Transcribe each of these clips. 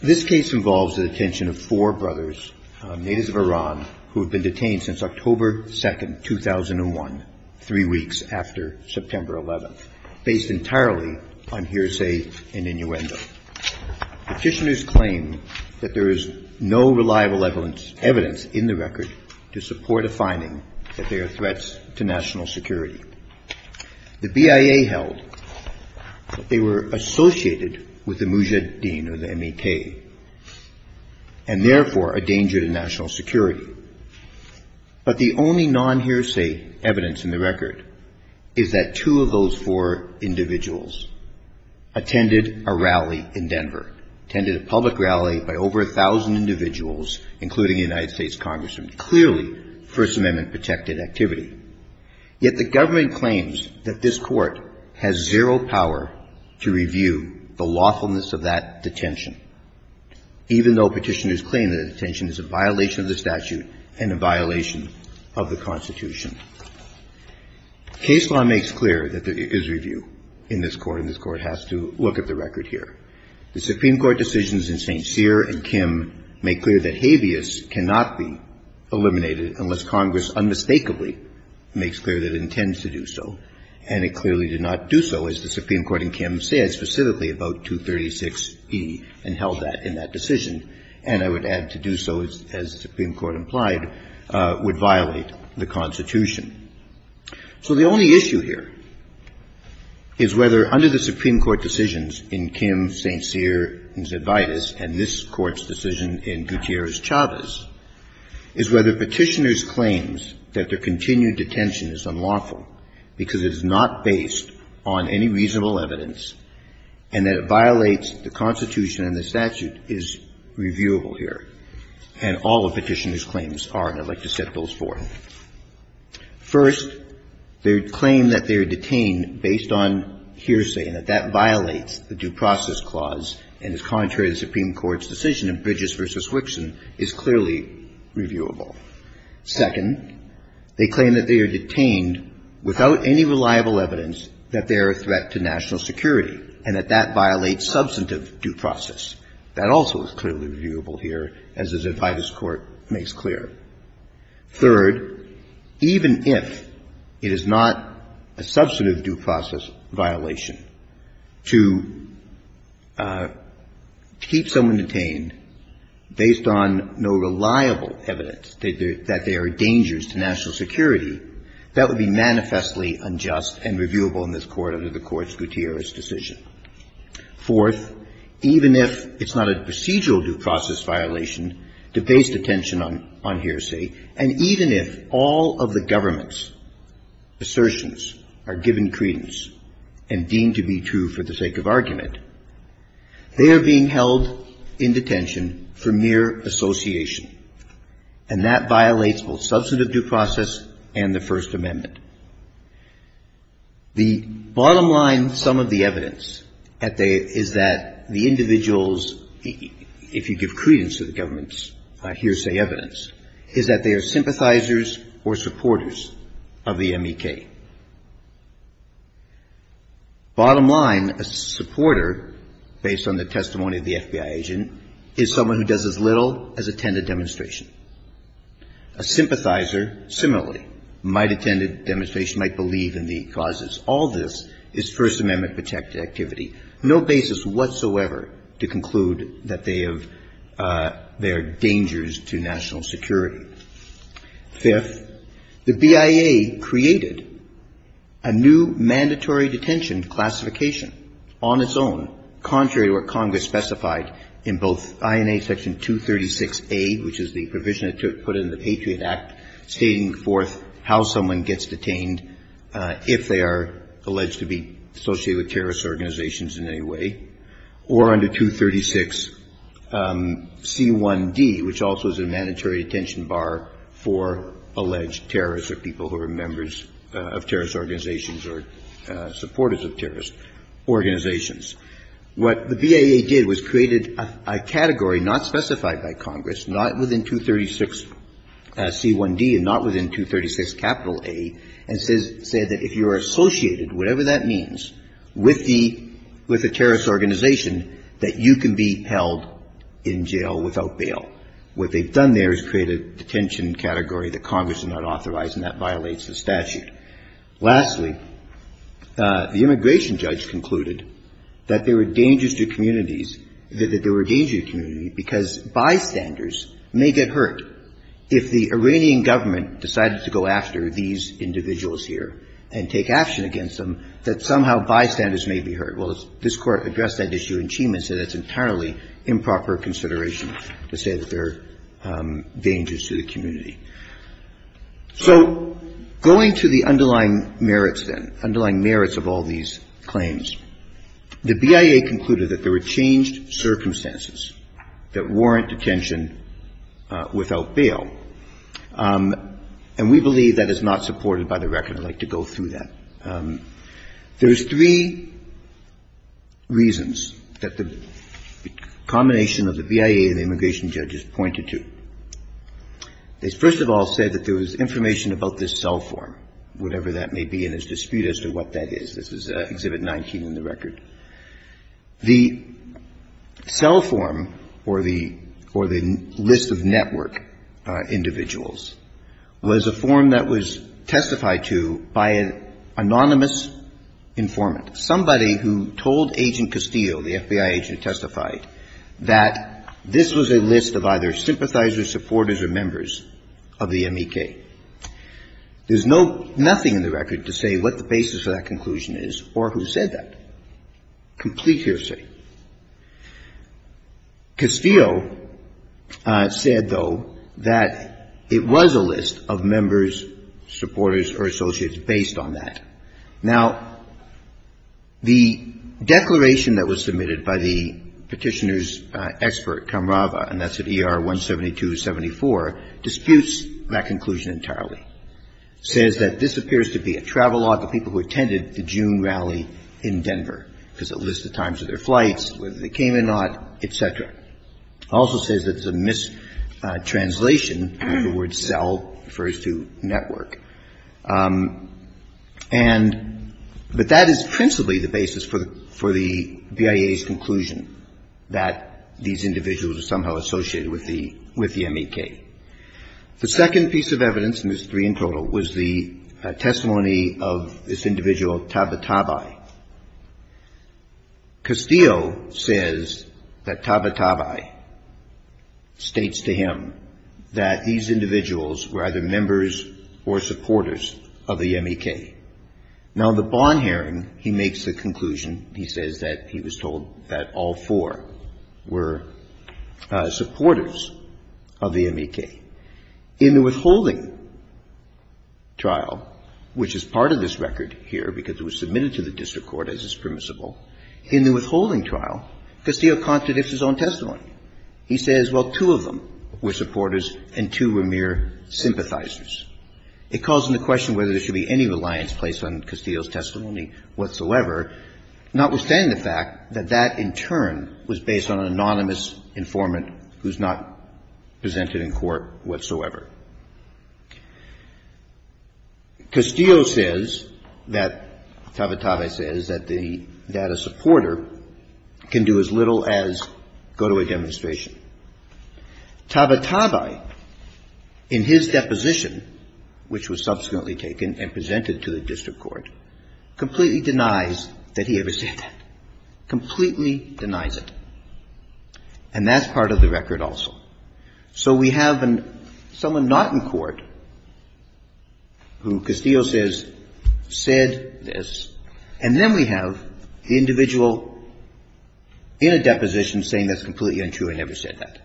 This case involves the detention of four brothers, natives of Iran, who have been detained since October 2, 2001, three weeks after September 11, based entirely on hearsay and innuendo. Petitioners claim that there is no reliable evidence in the record to support a finding that they are threats to national security. The BIA held that they were associated with the Mujahideen, or the MEK, and therefore a danger to national security. But the only non-hearsay evidence in the record is that two of those four individuals attended a rally in Denver, attended a public rally by over 1,000 individuals, including a United Yet the government claims that this Court has zero power to review the lawfulness of that detention, even though petitioners claim that detention is a violation of the statute and a violation of the Constitution. Case law makes clear that there is review in this Court, and this Court has to look at the record here. The Supreme Court decisions in St. Cyr and Kim make clear that habeas cannot be eliminated unless Congress unmistakably makes clear that it intends to do so. And it clearly did not do so, as the Supreme Court in Kim said, specifically about 236e and held that in that decision. And I would add, to do so, as the Supreme Court implied, would violate the Constitution. So the only issue here is whether, under the Supreme Court decisions in Kim, St. Cyr, and Zebaitis, and this Court's decision in Gutierrez-Chavez, is whether petitioner's claims that their continued detention is unlawful because it is not based on any reasonable evidence and that it violates the Constitution and the statute is reviewable here. And all the petitioner's claims are, and I'd like to set those forth. First, their claim that they are detained based on hearsay and that that violates the Due Process Clause and is contrary to the Supreme Court's decision in Bridges v. Wixon is clearly reviewable. Second, they claim that they are detained without any reliable evidence that they are a threat to national security and that that violates substantive due process. That also is clearly reviewable here, as the Zebaitis Court makes clear. Third, even if it is not a substantive due process violation, to keep someone detained based on no reliable evidence that they are a danger to national security, that would be manifestly unjust and reviewable in this Court under the Court's Gutierrez decision. Fourth, even if it's not a procedural due process violation, to base detention on hearsay, and even if all of the government's assertions are given credence and deemed to be true for the sake of argument, they are being held in detention for mere association, and that violates both substantive due process and the First Amendment. The bottom line sum of the evidence is that the individuals, if you give credence to the government's hearsay evidence, is that they are sympathizers or supporters of the MEK. Bottom line, a supporter, based on the testimony of the FBI agent, is someone who does as little as attend a demonstration. A sympathizer, similarly, might attend a demonstration, might believe in the causes. All this is First Amendment-protected activity. No basis whatsoever to conclude that they have, they are dangers to national security. Fifth, the BIA created a new mandatory detention classification on its own, contrary to what Congress specified in both INA Section 236A, which is the provision that put in the Patriot Act stating forth how someone gets detained if they are alleged to be associated with terrorist organizations in any way, or under 236C1D, which also is a mandatory detention bar for alleged terrorists or people who are members of terrorist organizations or supporters of terrorist organizations. What the BIA did was created a category not specified by Congress, not within 236C1D and not within 236A, and said that if you are associated, whatever that means, with the terrorist organization, that you can be held in jail without bail. What they've done there is create a detention category that Congress did not authorize and that violates the statute. Lastly, the immigration judge concluded that there were dangers to communities that there were dangers to communities because bystanders may get hurt. If the Iranian government decided to go after these individuals here and take action against them, that somehow bystanders may be hurt. Well, this Court addressed that issue in Chima and said that's entirely improper consideration to say that there are dangers to the community. So going to the underlying merits then, underlying merits of all these claims, the BIA concluded that there were changed circumstances that warrant detention without bail, and we believe that is not supported by the record. I'd like to go through that. There's three reasons that the combination of the BIA and the immigration judge pointed to. They first of all said that there was information about this cell form, whatever that may be, and there's dispute as to what that is. This is Exhibit 19 in the record. The cell form or the list of network individuals was a form that was testified to by an anonymous informant, somebody who told Agent Castillo, the FBI agent who testified, that this was a list of either sympathizers, supporters or members of the MEK. There's no, nothing in the record to say what the basis of that conclusion is or who said that. Complete hearsay. Castillo said, though, that it was a list of members, supporters or associates based on that. Now, the declaration that was submitted by the Petitioner's expert, Kamrava, and that's at ER 17274, disputes that conclusion entirely. It says that this appears to be a travelogue of people who attended the June rally in Denver, because it lists the times of their flights, whether they came or not, et cetera. It also says that it's a mistranslation. The word cell refers to network. And, but that is principally the basis for the BIA's conclusion, that these individuals are somehow associated with the MEK. The second piece of evidence, and there's three in total, was the testimony of this individual, Tabatabai. Castillo says that Tabatabai states to him that these individuals were either members or supporters of the MEK. Now, the bond hearing, he makes the conclusion, he says that he was told that all four were supporters of the MEK. In the withholding trial, which is part of this record here because it was submitted to the district court as is permissible, in the withholding trial, Castillo contradicts his own testimony. He says, well, two of them were supporters and two were mere sympathizers. It calls into question whether there should be any reliance placed on Castillo's testimony whatsoever, notwithstanding the fact that that, in turn, was based on an anonymous informant who's not presented in court whatsoever. Castillo says that Tabatabai says that the data supporter can do as little as go to a demonstration. Tabatabai, in his deposition, which was subsequently taken and presented to the district court, completely denies that he ever said that, completely denies it. And that's part of the record also. So we have someone not in court who Castillo says said this, and then we have the individual in a deposition saying that's completely untrue and never said that.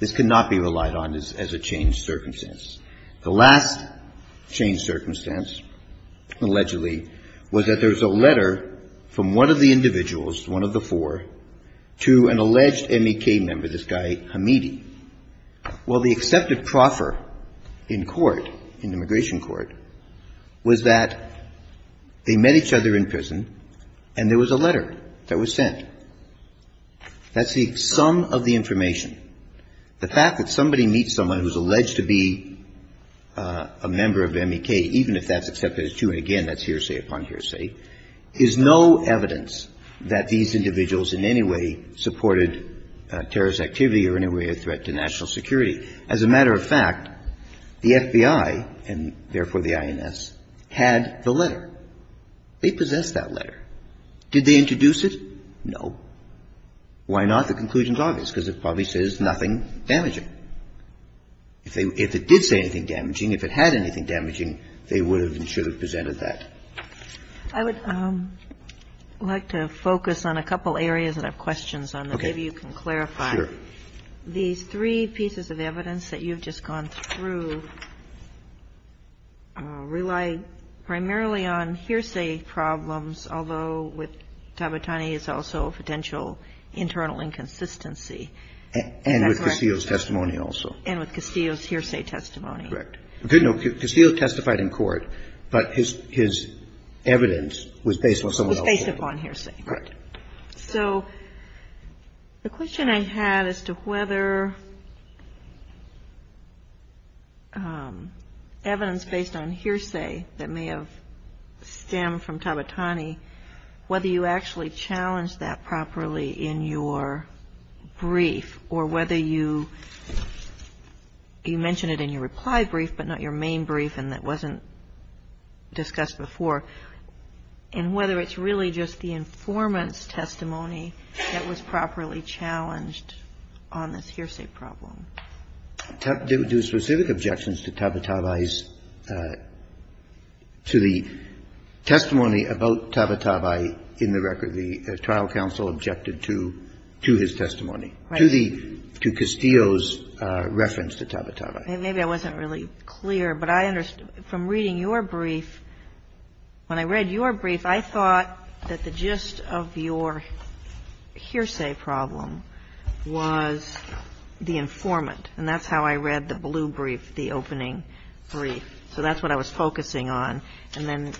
This cannot be relied on as a changed circumstance. The last changed circumstance, allegedly, was that there was a letter from one of the individuals, one of the four, to an alleged MEK member, this guy Hamidi. Well, the accepted proffer in court, in immigration court, was that they met each other and there was a letter that was sent. That's the sum of the information. The fact that somebody meets someone who's alleged to be a member of MEK, even if that's accepted as true, and, again, that's hearsay upon hearsay, is no evidence that these individuals in any way supported terrorist activity or any way a threat to national security. As a matter of fact, the FBI, and therefore the INS, had the letter. They possessed that letter. Did they introduce it? No. Why not? The conclusion's obvious, because it probably says nothing damaging. If it did say anything damaging, if it had anything damaging, they would have and should have presented that. I would like to focus on a couple areas that I have questions on that maybe you can clarify. Sure. These three pieces of evidence that you've just gone through rely primarily on hearsay problems, although with Tabatani it's also a potential internal inconsistency. And with Castillo's testimony also. And with Castillo's hearsay testimony. Correct. Castillo testified in court, but his evidence was based on someone else's. Was based upon hearsay. Correct. So the question I had as to whether evidence based on hearsay that may have stemmed from Tabatani, whether you actually challenged that properly in your brief, or whether you mentioned it in your reply brief, but not your main brief and that wasn't discussed before, and whether it's really just the informant's testimony that was properly challenged on this hearsay problem. There were specific objections to Tabatabai's, to the testimony about Tabatabai in the record. The trial counsel objected to his testimony. Right. To Castillo's reference to Tabatabai. Maybe I wasn't really clear, but I understood from reading your brief, when I read your brief, I thought that the gist of your hearsay problem was the informant. And that's how I read the blue brief, the opening brief. So that's what I was focusing on. And then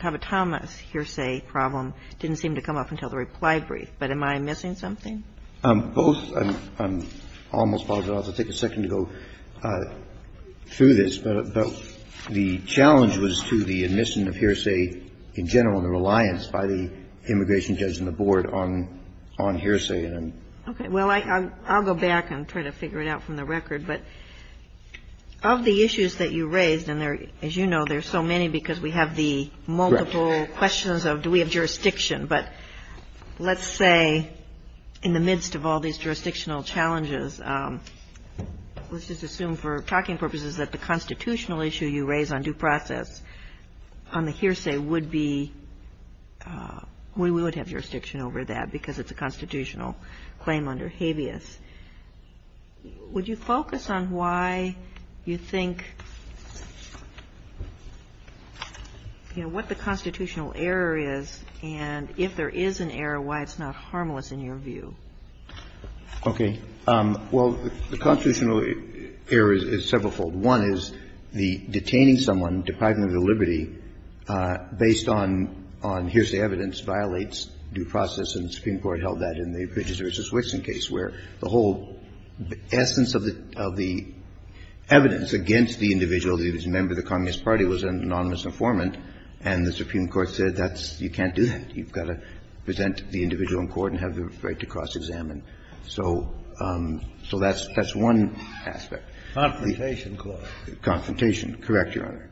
Tabatama's hearsay problem didn't seem to come up until the reply brief. But am I missing something? Both. I almost apologize. I'll take a second to go through this. But the challenge was to the admission of hearsay in general and the reliance by the immigration judge and the board on hearsay. Okay. Well, I'll go back and try to figure it out from the record. But of the issues that you raised, and as you know, there are so many because we have the multiple questions of do we have jurisdiction. But let's say in the midst of all these jurisdictional challenges, let's just assume for talking purposes that the constitutional issue you raise on due process on the hearsay would be, we would have jurisdiction over that because it's a constitutional claim under habeas. Would you focus on why you think, you know, what the constitutional error is and if there is an error, why it's not harmless in your view? Okay. Well, the constitutional error is severalfold. One is the detaining someone deprived of their liberty based on hearsay evidence violates due process, and the Supreme Court held that in the Bridges v. Wixson case where the whole essence of the evidence against the individual, the member of the Communist Party was an anonymous informant, and the Supreme Court said that's you can't do that. You've got to present the individual in court and have the right to cross-examine. So that's one aspect. Confrontation clause. Confrontation. Correct, Your Honor.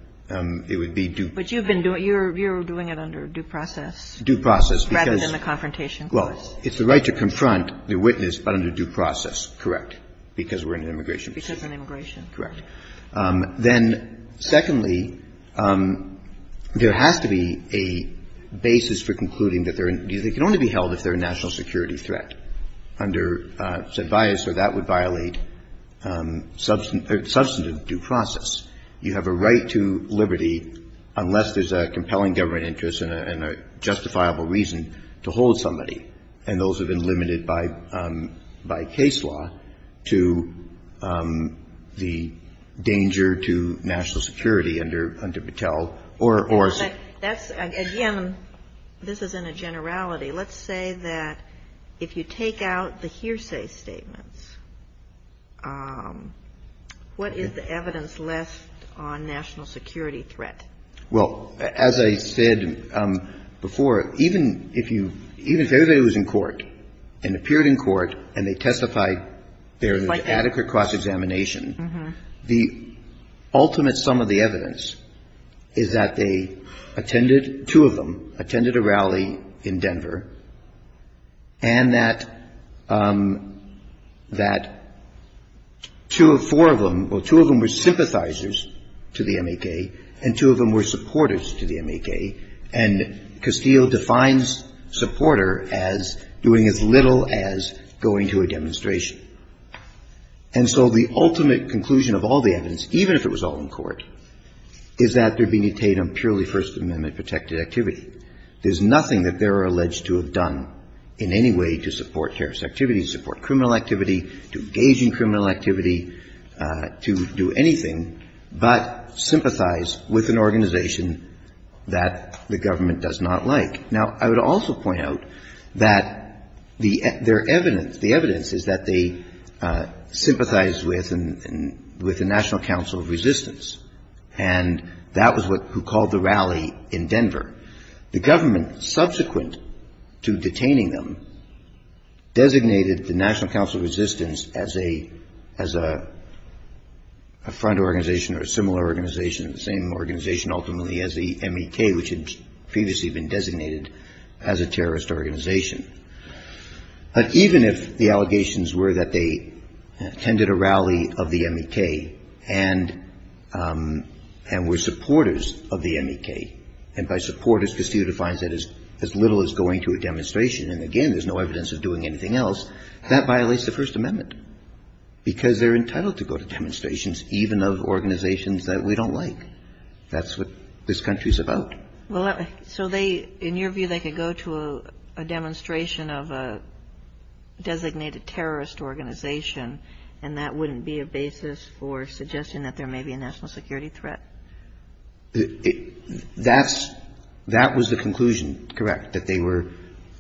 It would be due process. But you've been doing it under due process. Due process. Rather than the confrontation clause. Well, it's the right to confront the witness, but under due process. Correct. Because we're in an immigration proceeding. Because it's an immigration. Correct. Then, secondly, there has to be a basis for concluding that they can only be held if they're a national security threat. Under said bias or that would violate substantive due process. You have a right to liberty unless there's a compelling government interest and a justifiable reason to hold somebody. And those have been limited by case law to the danger to national security under Battelle or. Again, this is in a generality. Let's say that if you take out the hearsay statements, what is the evidence left on national security threat? Well, as I said before, even if you – even if everybody was in court and appeared in court and they testified there was adequate cross-examination. The ultimate sum of the evidence is that they attended – two of them attended a rally in Denver and that two or four of them – well, two of them were sympathizers to the M.A.K. and two of them were supporters to the M.A.K. And Castillo defines supporter as doing as little as going to a demonstration. And so the ultimate conclusion of all the evidence, even if it was all in court, is that they're being detained on purely First Amendment protected activity. There's nothing that they're alleged to have done in any way to support terrorist activity, to support criminal activity, to engage in criminal activity, to do anything but sympathize with an organization that the government does not like. Now, I would also point out that the – their evidence – the evidence is that they sympathized with – with the National Council of Resistance. And that was what – who called the rally in Denver. The government, subsequent to detaining them, designated the National Council of Resistance as a – as a front organization or a similar organization, the same organization ultimately as the M.A.K., which had previously been designated as a terrorist organization. But even if the allegations were that they attended a rally of the M.A.K. and – and were supporters of the M.A.K. and by supporters, Castillo defines that as little as going to a demonstration. And again, there's no evidence of doing anything else. That violates the First Amendment because they're entitled to go to demonstrations, even of organizations that we don't like. That's what this country's about. Kagan. Well, so they – in your view, they could go to a demonstration of a designated terrorist organization, and that wouldn't be a basis for suggesting that there may be a national security threat? That's – that was the conclusion, correct, that they were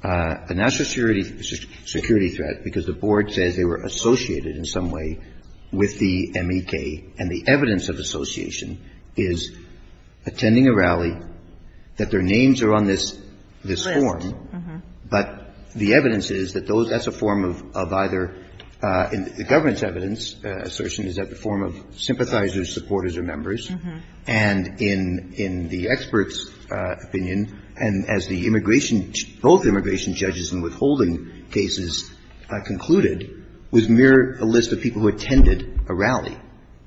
a national security threat because the board says they were associated in some way with the M.A.K. and the evidence of association is attending a rally, that their names are on this – this form. But the evidence is that those – that's a form of either – the government's evidence assertion is that the form of sympathizers, supporters or members, and in – in the expert's opinion, and as the immigration – both immigration judges in withholding cases concluded, was mere a list of people who attended a rally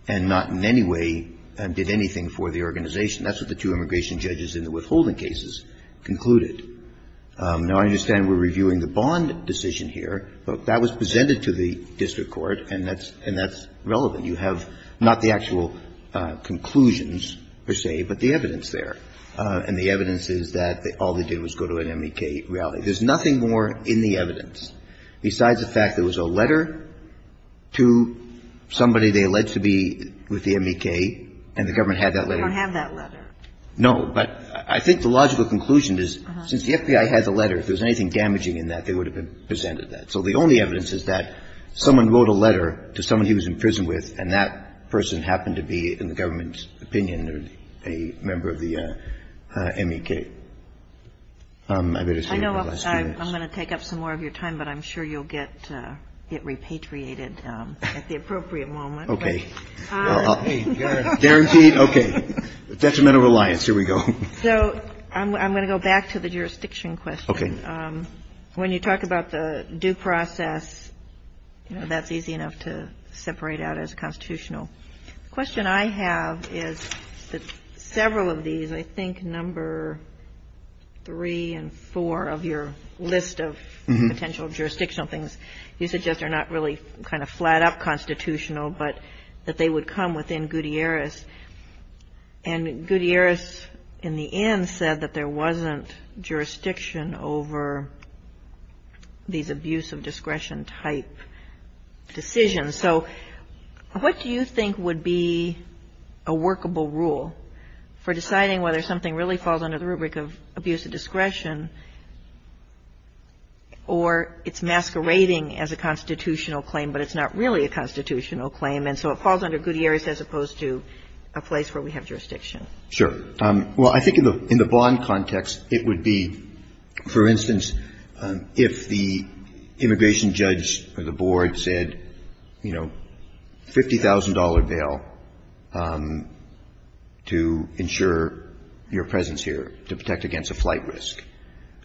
and not in any way did anything for the organization. That's what the two immigration judges in the withholding cases concluded. Now, I understand we're reviewing the Bond decision here, but that was presented to the district court, and that's – and that's relevant. You have not the actual conclusions, per se, but the evidence there, and the evidence is that all they did was go to an M.A.K. rally. There's nothing more in the evidence besides the fact there was a letter to somebody they alleged to be with the M.A.K., and the government had that letter. You don't have that letter. No, but I think the logical conclusion is since the FBI had the letter, if there was anything damaging in that, they would have presented that. So the only evidence is that someone wrote a letter to someone he was in prison with, and that person happened to be, in the government's opinion, a member of the M.A.K. I better say it in the last few minutes. I know I'm going to take up some more of your time, but I'm sure you'll get repatriated at the appropriate moment. Okay. But I'll – Okay. Guaranteed, okay. Detrimental reliance. Here we go. So I'm going to go back to the jurisdiction question. Okay. When you talk about the due process, you know, that's easy enough to separate out as constitutional. The question I have is that several of these, I think number three and four of your list of potential jurisdictional things, you suggest are not really kind of flat-out constitutional, but that they would come within Gutierrez. And Gutierrez, in the end, said that there wasn't jurisdiction over these abuse of discretion type decisions. So what do you think would be a workable rule for deciding whether something really falls under the rubric of abuse of discretion or it's masquerading as a constitutional claim, but it's not really a constitutional claim, and so it falls under Gutierrez as opposed to a place where we have jurisdiction? Sure. Well, I think in the bond context, it would be, for instance, if the immigration judge or the board said, you know, $50,000 bail to ensure your presence here to protect against a flight risk,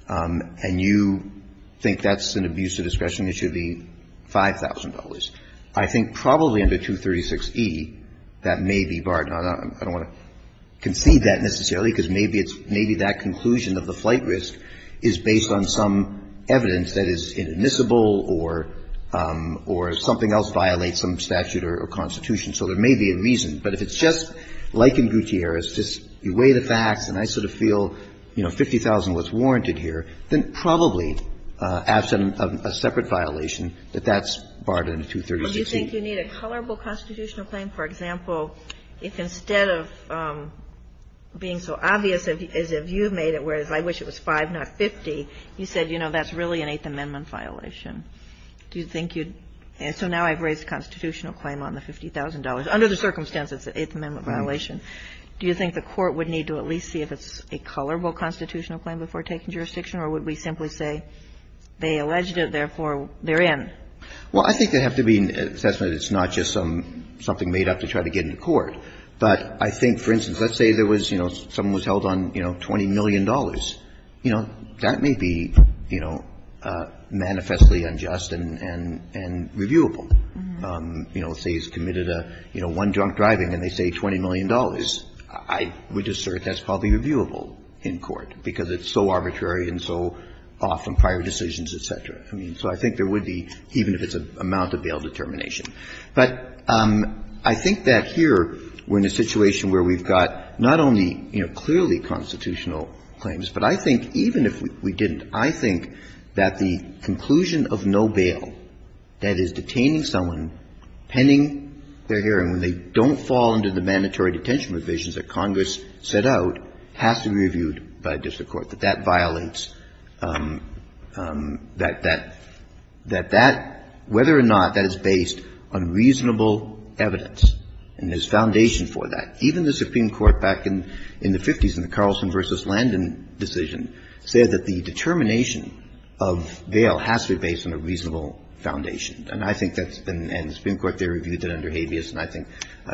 and you think that's an abuse of discretion, it should be $5,000. I think probably under 236e, that may be barred. Now, I don't want to concede that necessarily, because maybe it's – maybe that conclusion of the flight risk is based on some evidence that is inadmissible or something else violates some statute or constitution. So there may be a reason. But if it's just like in Gutierrez, just you weigh the facts and I sort of feel, you know, So do you think you need a colorable constitutional claim? For example, if instead of being so obvious as if you made it where it's, I wish it was 5, not 50, you said, you know, that's really an Eighth Amendment violation, do you think you'd – so now I've raised a constitutional claim on the $50,000. Under the circumstances, it's an Eighth Amendment violation. Do you think the Court would need to at least see if it's a colorable constitutional claim before taking jurisdiction, or would we simply say they alleged it, therefore, they're in? Well, I think there'd have to be an assessment that it's not just some – something made up to try to get into court. But I think, for instance, let's say there was, you know, someone was held on, you know, $20 million. You know, that may be, you know, manifestly unjust and – and reviewable. You know, say he's committed a, you know, one drunk driving and they say $20 million. I would assert that's probably reviewable in court, because it's so arbitrary and so often prior decisions, et cetera. I mean, so I think there would be, even if it's an amount-of-bail determination. But I think that here we're in a situation where we've got not only, you know, clearly constitutional claims, but I think even if we didn't, I think that the conclusion of no bail, that is, detaining someone pending their hearing when they don't fall under the mandatory detention provisions that Congress set out, has to be reviewed by a district court, that that violates that that – that that, whether or not that is based on reasonable evidence and there's foundation for that. Even the Supreme Court back in the 50s in the Carlson v. Landon decision said that the determination of bail has to be based on a reasonable foundation. And I think that's been – and the Supreme Court, they reviewed that under habeas. And I think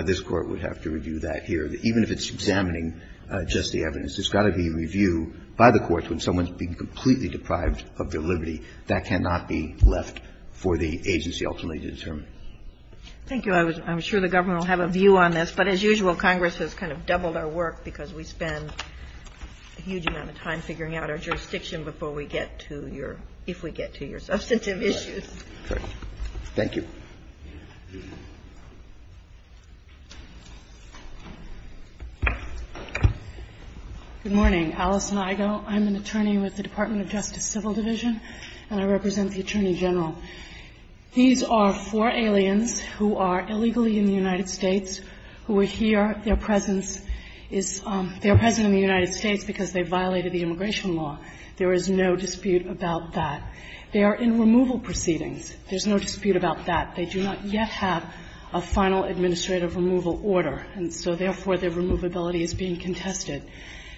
this Court would have to review that here, even if it's examining just the evidence. It's got to be reviewed by the courts when someone's been completely deprived of their liberty. That cannot be left for the agency ultimately to determine. Thank you. I was – I'm sure the government will have a view on this. But as usual, Congress has kind of doubled our work because we spend a huge amount of time figuring out our jurisdiction before we get to your – if we get to your substantive issues. Thank you. Good morning. Alison Igoe. I'm an attorney with the Department of Justice Civil Division, and I represent the Attorney General. These are four aliens who are illegally in the United States, who are here. Their presence is – they are present in the United States because they violated the immigration law. There is no dispute about that. They are in removal proceedings. There's no dispute about that. They do not yet have a final administrative removal order, and so therefore, their removability is being contested.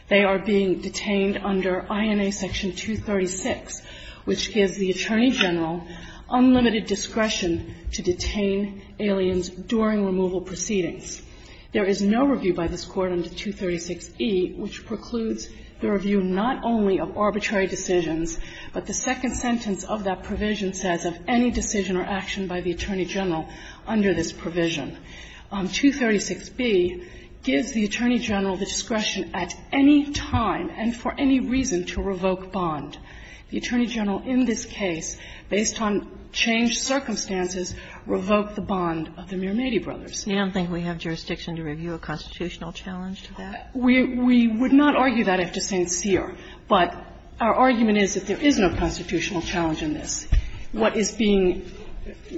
They are being detained under INA Section 236, which gives the Attorney General unlimited discretion to detain aliens during removal proceedings. There is no review by this Court under 236e, which precludes the review not only of arbitrary decisions, but the second sentence of that provision says of any decision or action by the Attorney General under this provision. 236b gives the Attorney General the discretion at any time and for any reason to revoke bond. The Attorney General in this case, based on changed circumstances, revoked the bond of the Mearmady brothers. You don't think we have jurisdiction to review a constitutional challenge to that? We would not argue that, if to say it's here. But our argument is that there is no constitutional challenge in this. What is being –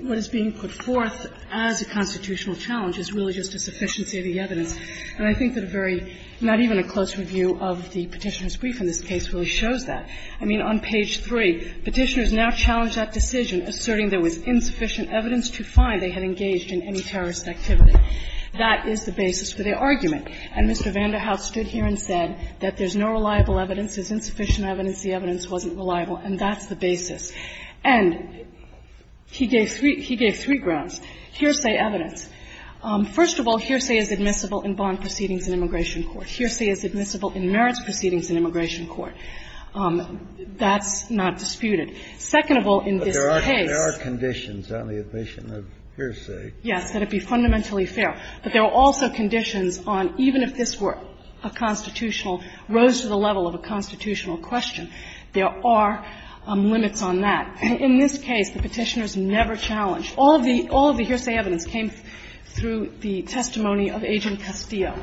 what is being put forth as a constitutional challenge is really just a sufficiency of the evidence. And I think that a very – not even a close review of the Petitioner's brief in this case really shows that. I mean, on page 3, Petitioners now challenge that decision, asserting there was insufficient evidence to find they had engaged in any terrorist activity. That is the basis for their argument. And Mr. Vanderhaus stood here and said that there's no reliable evidence. There's insufficient evidence. The evidence wasn't reliable. And that's the basis. And he gave three – he gave three grounds. Hearsay evidence. First of all, hearsay is admissible in bond proceedings in immigration court. Hearsay is admissible in merits proceedings in immigration court. That's not disputed. Second of all, in this case – Kennedy, but there are conditions on the admission of hearsay. Yes, that it be fundamentally fair. But there are also conditions on even if this were a constitutional – rose to the level of a constitutional question, there are limits on that. And in this case, the Petitioners never challenged – all of the hearsay evidence came through the testimony of Agent Castillo.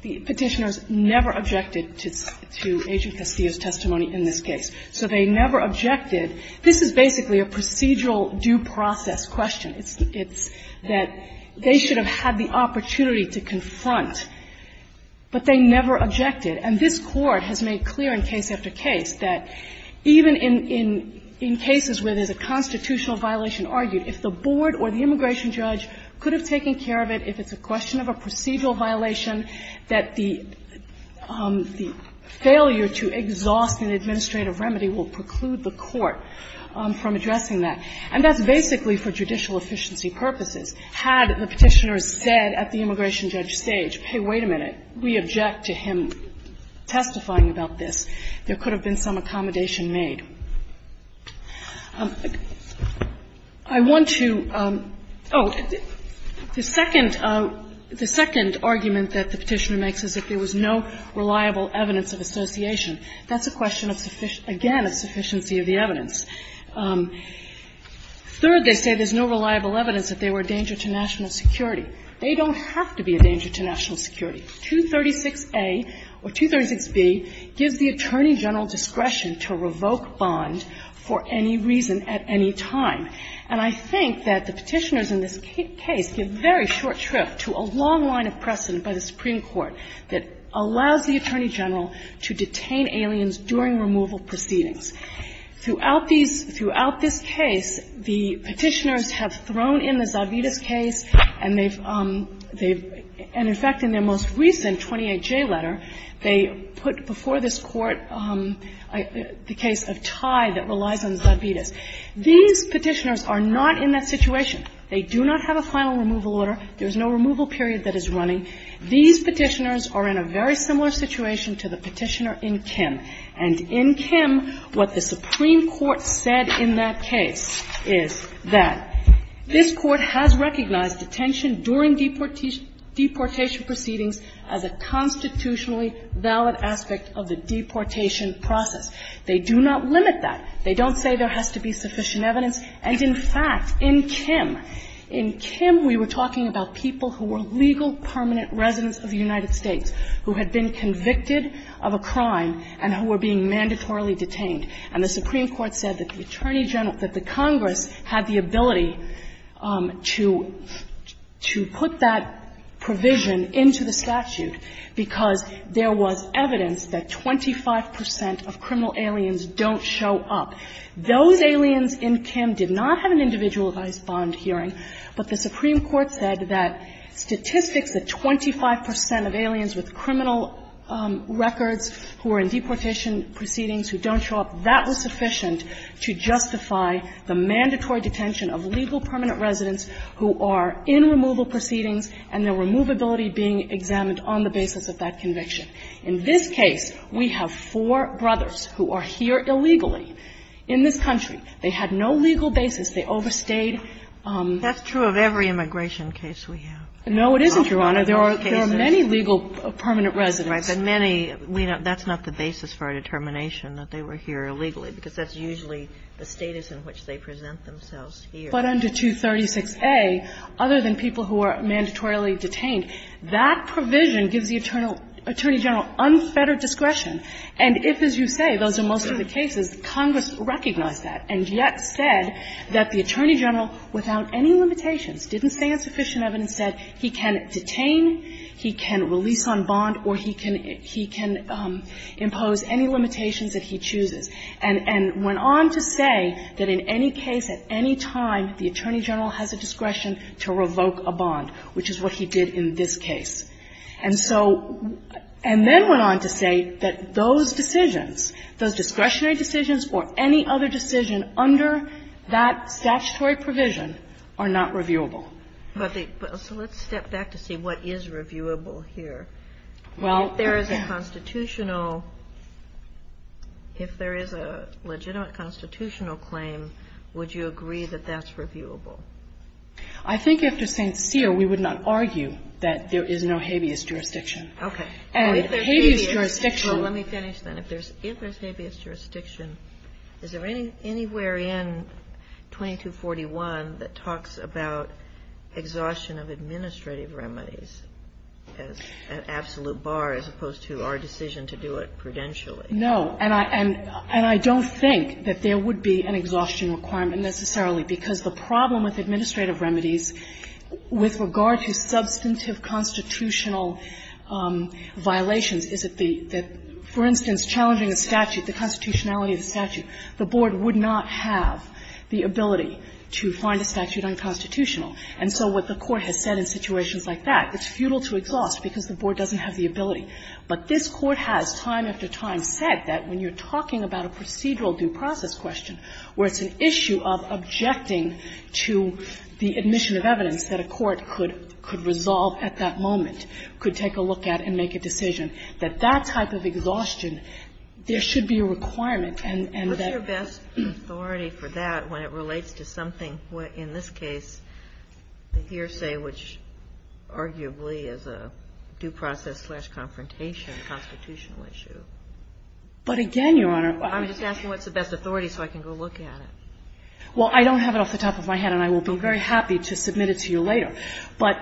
The Petitioners never objected to Agent Castillo's testimony in this case. So they never objected. This is basically a procedural due process question. It's that they should have had the opportunity to confront, but they never objected. And this Court has made clear in case after case that even in cases where there's a constitutional violation argued, if the board or the immigration judge could have taken care of it, if it's a question of a procedural violation, that the failure to exhaust an administrative remedy will preclude the Court from addressing that. And that's basically for judicial efficiency purposes. Had the Petitioners said at the immigration judge stage, hey, wait a minute, we object to him testifying about this, there could have been some accommodation made. I want to – oh, the second – the second argument that the Petitioner makes is that there was no reliable evidence of association. That's a question of – again, of sufficiency of the evidence. Third, they say there's no reliable evidence that they were a danger to national security. They don't have to be a danger to national security. 236A or 236B gives the Attorney General discretion to revoke bond for any reason at any time. And I think that the Petitioners in this case give very short shrift to a long line of precedent by the Supreme Court that allows the Attorney General to detain aliens during removal proceedings. Throughout these – throughout this case, the Petitioners have thrown in the Zarbides case and they've – they've – and in fact, in their most recent 28J letter, they put before this Court the case of Tai that relies on Zarbides. These Petitioners are not in that situation. They do not have a final removal order. There's no removal period that is running. These Petitioners are in a very similar situation to the Petitioner in Kim. And in Kim, what the Supreme Court said in that case is that this Court has recognized detention during deportation – deportation proceedings as a constitutionally valid aspect of the deportation process. They do not limit that. They don't say there has to be sufficient evidence. And in fact, in Kim – in Kim, we were talking about people who were legal permanent residents of the United States who had been convicted of a crime and who were being mandatorily detained, and the Supreme Court said that the Attorney General – that the Congress had the ability to – to put that provision into the statute because there was evidence that 25 percent of criminal aliens don't show up. Those aliens in Kim did not have an individualized bond hearing, but the Supreme Court said that statistics that 25 percent of aliens with criminal records who are in deportation proceedings who don't show up, that was sufficient to justify the mandatory detention of legal permanent residents who are in removal proceedings and their removability being examined on the basis of that conviction. In this case, we have four brothers who are here illegally in this country. They had no legal basis. They overstayed. That's true of every immigration case we have. No, it isn't, Your Honor. There are many legal permanent residents. Right. But many – that's not the basis for a determination that they were here illegally because that's usually the status in which they present themselves here. But under 236a, other than people who are mandatorily detained, that provision gives the Attorney General unfettered discretion. And if, as you say, those are most of the cases, Congress recognized that and yet said that the Attorney General, without any limitations, didn't stand sufficient evidence, said he can detain, he can release on bond, or he can impose any limitations that he chooses, and went on to say that in any case, at any time, the Attorney General has a discretion to revoke a bond, which is what he did in this case. And so – and then went on to say that those decisions, those discretionary decisions, or any other decision under that statutory provision are not reviewable. But the – so let's step back to see what is reviewable here. Well, yeah. If there is a constitutional – if there is a legitimate constitutional claim, would you agree that that's reviewable? I think, if we're sincere, we would not argue that there is no habeas jurisdiction. Okay. And habeas jurisdiction – Is there any – anywhere in 2241 that talks about exhaustion of administrative remedies as an absolute bar as opposed to our decision to do it prudentially? No. And I – and I don't think that there would be an exhaustion requirement necessarily, because the problem with administrative remedies with regard to substantive constitutional violations is that the – that, for instance, challenging the statute, the constitutionality of the statute, the board would not have the ability to find a statute unconstitutional. And so what the Court has said in situations like that, it's futile to exhaust because the board doesn't have the ability. But this Court has, time after time, said that when you're talking about a procedural due process question, where it's an issue of objecting to the admission of evidence that a court could – could resolve at that moment, could take a look at and make a decision, that that type of exhaustion, there should be a requirement. And that – But what's the best authority for that when it relates to something, in this case, the hearsay, which arguably is a due process-slash-confrontation constitutional issue? But again, Your Honor, I'm just asking what's the best authority so I can go look at it. Well, I don't have it off the top of my head, and I will be very happy to submit it to you later. But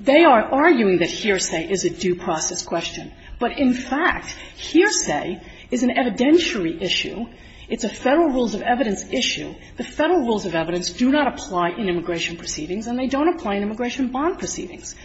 they are arguing that hearsay is a due process question. But in fact, hearsay is an evidentiary issue. It's a Federal rules of evidence issue. The Federal rules of evidence do not apply in immigration proceedings, and they don't apply in immigration bond proceedings.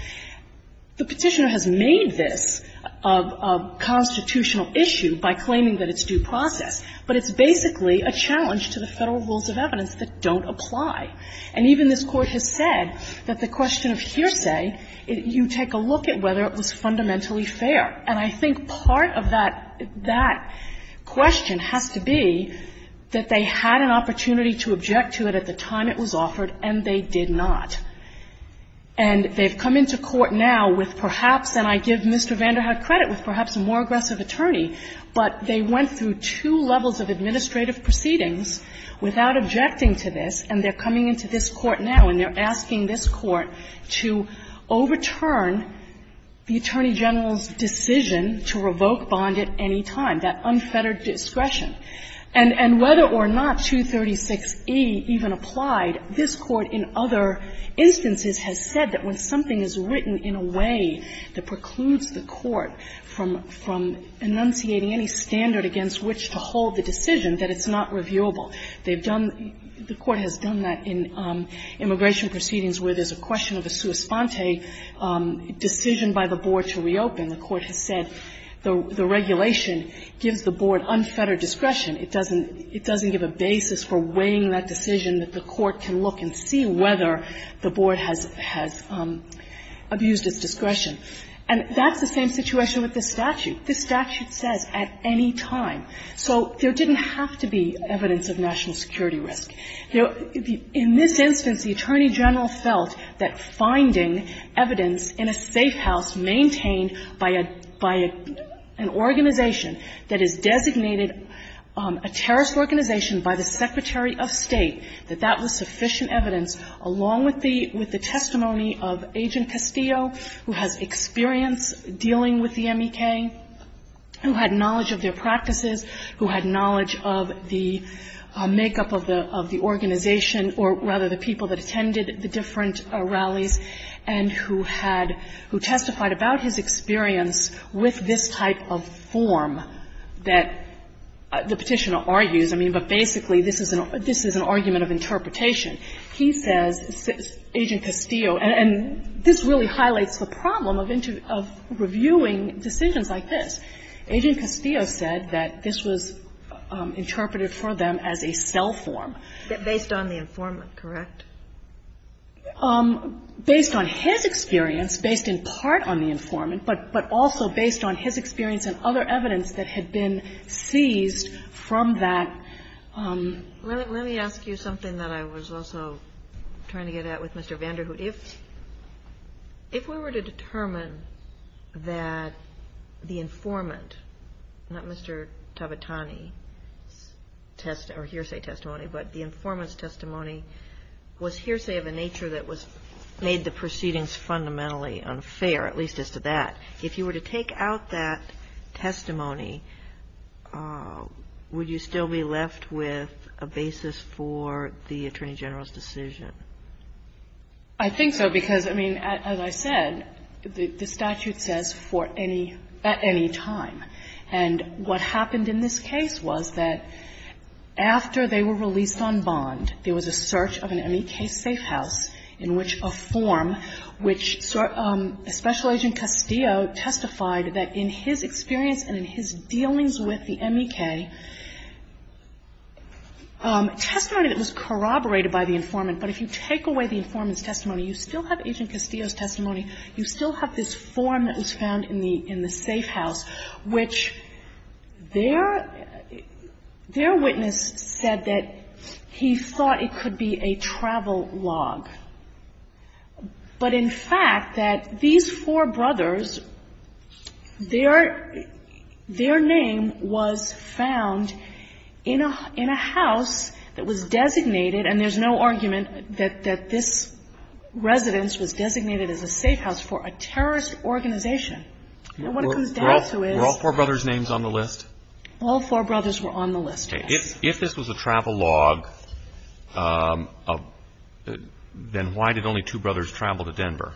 The Petitioner has made this a constitutional issue by claiming that it's due process, but it's basically a challenge to the Federal rules of evidence that don't apply. And even this Court has said that the question of hearsay, you take a look at whether it was fundamentally fair. And I think part of that question has to be that they had an opportunity to object to it at the time it was offered, and they did not. And they've come into court now with perhaps, and I give Mr. Vanderhaar credit, with perhaps a more aggressive attorney, but they went through two levels of administrative proceedings without objecting to this, and they're coming into this Court now and they're asking this Court to overturn the Attorney General's decision to revoke bond at any time, that unfettered discretion. And whether or not 236e even applied, this Court in other instances has said that when something is written in a way that precludes the Court from enunciating any standard against which to hold the decision, that it's not reviewable. They've done the Court has done that in immigration proceedings where there's a question of a sua sponte decision by the Board to reopen. The Court has said the regulation gives the Board unfettered discretion. It doesn't give a basis for weighing that decision that the Court can look and see whether the Board has abused its discretion. And that's the same situation with this statute. This statute says at any time. So there didn't have to be evidence of national security risk. In this instance, the Attorney General felt that finding evidence in a safe house maintained by a by an organization that is designated a terrorist organization by the Secretary of State, that that was sufficient evidence, along with the with of Agent Castillo, who has experience dealing with the MEK, who had knowledge of their practices, who had knowledge of the makeup of the organization, or rather the people that attended the different rallies, and who testified about his experience with this type of form that the Petitioner argues. I mean, but basically, this is an argument of interpretation. He says, Agent Castillo, and this really highlights the problem of reviewing decisions like this. Agent Castillo said that this was interpreted for them as a cell form. Based on the informant, correct? Based on his experience, based in part on the informant, but also based on his experience and other evidence that had been seized from that. Let me ask you something that I was also trying to get at with Mr. Vanderhoof. If we were to determine that the informant, not Mr. Tabatani's testimony or hearsay testimony, but the informant's testimony was hearsay of a nature that made the proceedings fundamentally unfair, at least as to that, if you were to take out that testimony, would you still be left with a basis for the Attorney General's decision? I think so, because, I mean, as I said, the statute says for any, at any time. And what happened in this case was that after they were released on bond, there was a search of an MEK safe house in which a form, which Special Agent Castillo testified that in his experience and in his dealings with the MEK, testimony that was corroborated by the informant, but if you take away the informant's testimony, you still have Agent Castillo's testimony. You still have this form that was found in the safe house, which their witness said that he thought it could be a travel log. But in fact, that these four brothers, their name was found in a house that was designated, and there's no argument that this residence was designated as a safe house for a terrorist organization. And what it comes down to is – Were all four brothers' names on the list? All four brothers were on the list, yes. If this was a travel log, then why did only two brothers travel to Denver?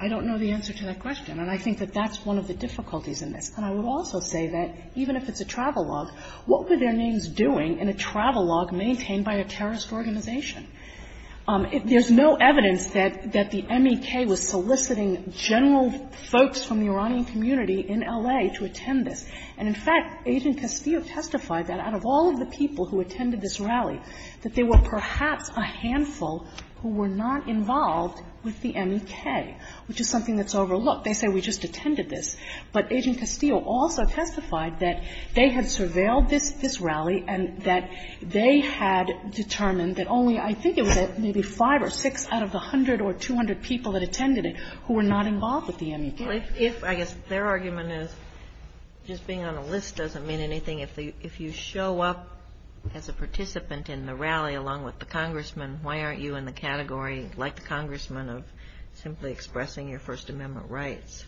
I don't know the answer to that question, and I think that that's one of the difficulties in this. And I would also say that even if it's a travel log, what were their names doing in a travel log maintained by a terrorist organization? There's no evidence that the MEK was soliciting general folks from the Iranian community in L.A. to attend this. And in fact, Agent Castillo testified that out of all of the people who attended this rally, that there were perhaps a handful who were not involved with the MEK, which is something that's overlooked. They say, we just attended this. But Agent Castillo also testified that they had surveilled this rally and that they had determined that only, I think it was maybe five or six out of the 100 or 200 people that attended it who were not involved with the MEK. I guess their argument is just being on a list doesn't mean anything. If you show up as a participant in the rally along with the congressman, why aren't you in the category, like the congressman, of simply expressing your First Amendment rights?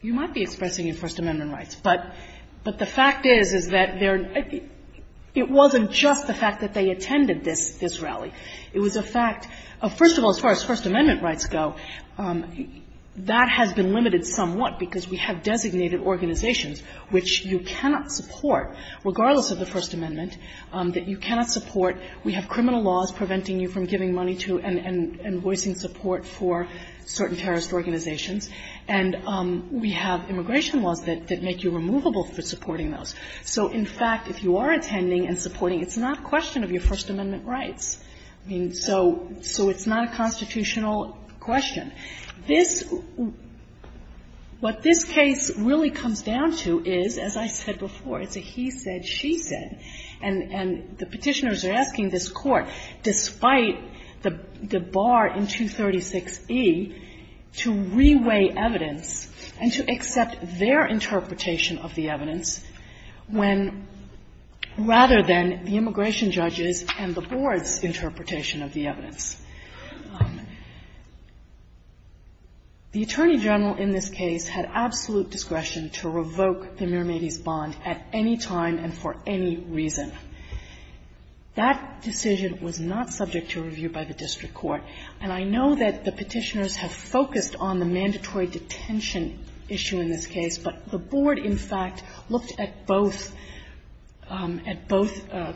You might be expressing your First Amendment rights. But the fact is, is that it wasn't just the fact that they attended this rally. It was a fact of, first of all, as far as First Amendment rights go, that has been limited somewhat because we have designated organizations which you cannot support, regardless of the First Amendment, that you cannot support. We have criminal laws preventing you from giving money to and voicing support for certain terrorist organizations. And we have immigration laws that make you removable for supporting those. So in fact, if you are attending and supporting, it's not a question of your First Amendment rights. I mean, so it's not a constitutional question. This, what this case really comes down to is, as I said before, it's a he said, she said. And the Petitioners are asking this Court, despite the bar in 236e, to reweigh evidence and to accept their interpretation of the evidence when, rather than the interpretation of the evidence. The Attorney General in this case had absolute discretion to revoke the Miramides bond at any time and for any reason. That decision was not subject to review by the district court. And I know that the Petitioners have focused on the mandatory detention issue in this case, but the Board, in fact, looked at both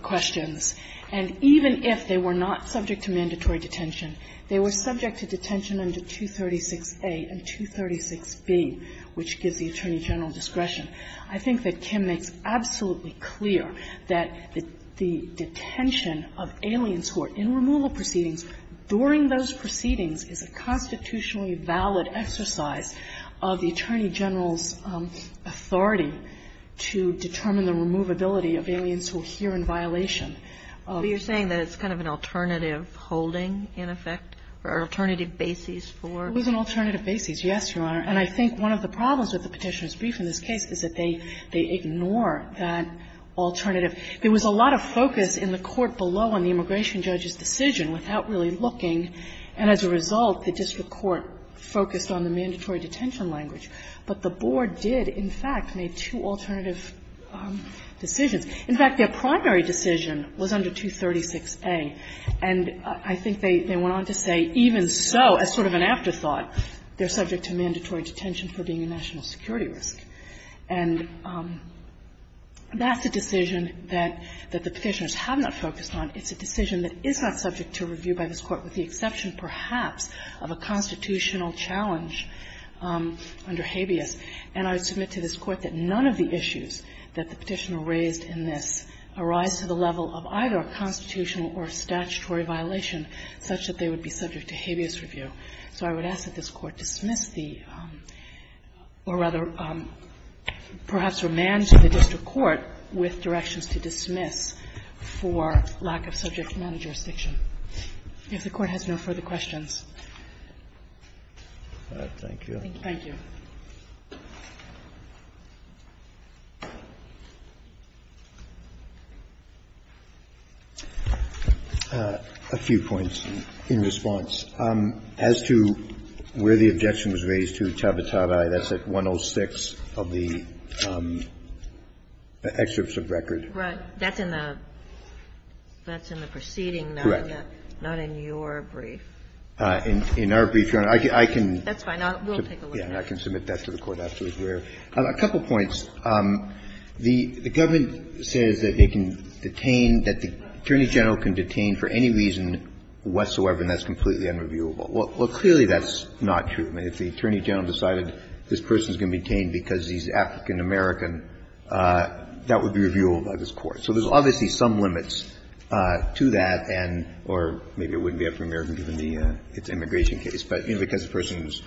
questions. And even if they were not subject to mandatory detention, they were subject to detention under 236a and 236b, which gives the Attorney General discretion. I think that Kim makes absolutely clear that the detention of aliens who are in removal proceedings during those proceedings is a constitutionally valid exercise of the Attorney General's authority to determine the removability of aliens who are here in violation. But you're saying that it's kind of an alternative holding, in effect, or an alternative basis for? It was an alternative basis, yes, Your Honor. And I think one of the problems with the Petitioners' brief in this case is that they ignore that alternative. There was a lot of focus in the Court below on the immigration judge's decision without really looking, and as a result, the district court focused on the mandatory detention language. But the Board did, in fact, make two alternative decisions. In fact, their primary decision was under 236a. And I think they went on to say, even so, as sort of an afterthought, they're subject to mandatory detention for being a national security risk. And that's a decision that the Petitioners have not focused on. It's a decision that is not subject to review by this Court, with the exception, perhaps, of a constitutional challenge under habeas. And I submit to this Court that none of the issues that the Petitioner raised in this arise to the level of either a constitutional or statutory violation such that they would be subject to habeas review. So I would ask that this Court dismiss the or, rather, perhaps remand to the district court with directions to dismiss for lack of subject matter jurisdiction. If the Court has no further questions. Thank you. Thank you. A few points in response. As to where the objection was raised to Tabataba, that's at 106 of the excerpts of record. Right. That's in the proceeding, not in your brief. Correct. In our brief, Your Honor. I can. That's fine. We'll take a look at that. I can submit that to the Court, absolutely. A couple points. The government says that they can detain, that the Attorney General can detain for any reason whatsoever, and that's completely unreviewable. Well, clearly that's not true. I mean, if the Attorney General decided this person is going to be detained because he's African-American, that would be reviewable by this Court. So there's obviously some limits to that and or maybe it wouldn't be African-American given the immigration case, but, you know, because the person is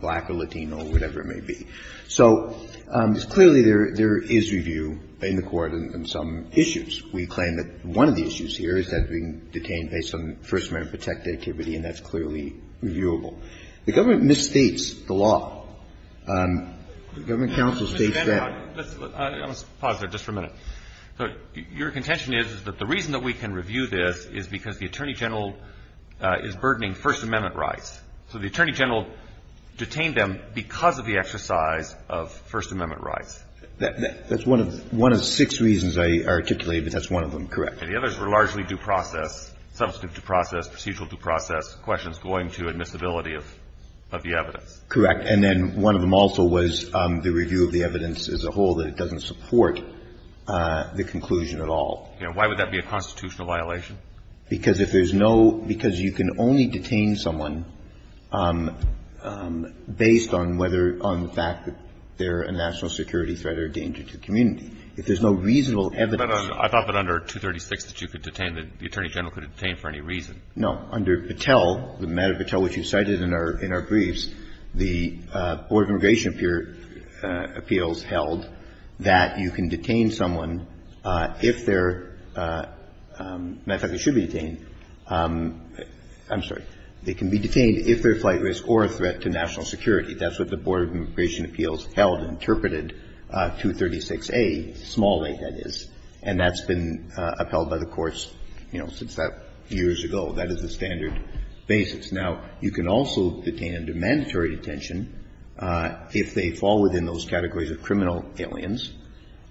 black or Latino or whatever it may be. So clearly there is review in the Court on some issues. We claim that one of the issues here is that being detained based on First Amendment protected activity, and that's clearly reviewable. The government misstates the law. The government counsel states that. Mr. Vandenbroek, let's pause there just for a minute. Your contention is that the reason that we can review this is because the Attorney General is burdening First Amendment rights. So the Attorney General detained them because of the exercise of First Amendment rights. That's one of six reasons I articulated, but that's one of them, correct. And the others were largely due process, substantive due process, procedural due process, questions going to admissibility of the evidence. Correct. And then one of them also was the review of the evidence as a whole that it doesn't support the conclusion at all. Why would that be a constitutional violation? Because if there's no – because you can only detain someone based on whether – on the fact that they're a national security threat or a danger to the community. If there's no reasonable evidence. But I thought that under 236 that you could detain, that the Attorney General could detain for any reason. No. Under Patel, the matter of Patel, which you cited in our briefs, the Board of Immigration Appeals held that you can detain someone if they're – as a matter of fact, they should be detained. I'm sorry. They can be detained if they're a flight risk or a threat to national security. That's what the Board of Immigration Appeals held and interpreted 236a, small a, that is. And that's been upheld by the courts, you know, since that – years ago. That is the standard basis. Now, you can also detain under mandatory detention if they fall within those categories of criminal aliens.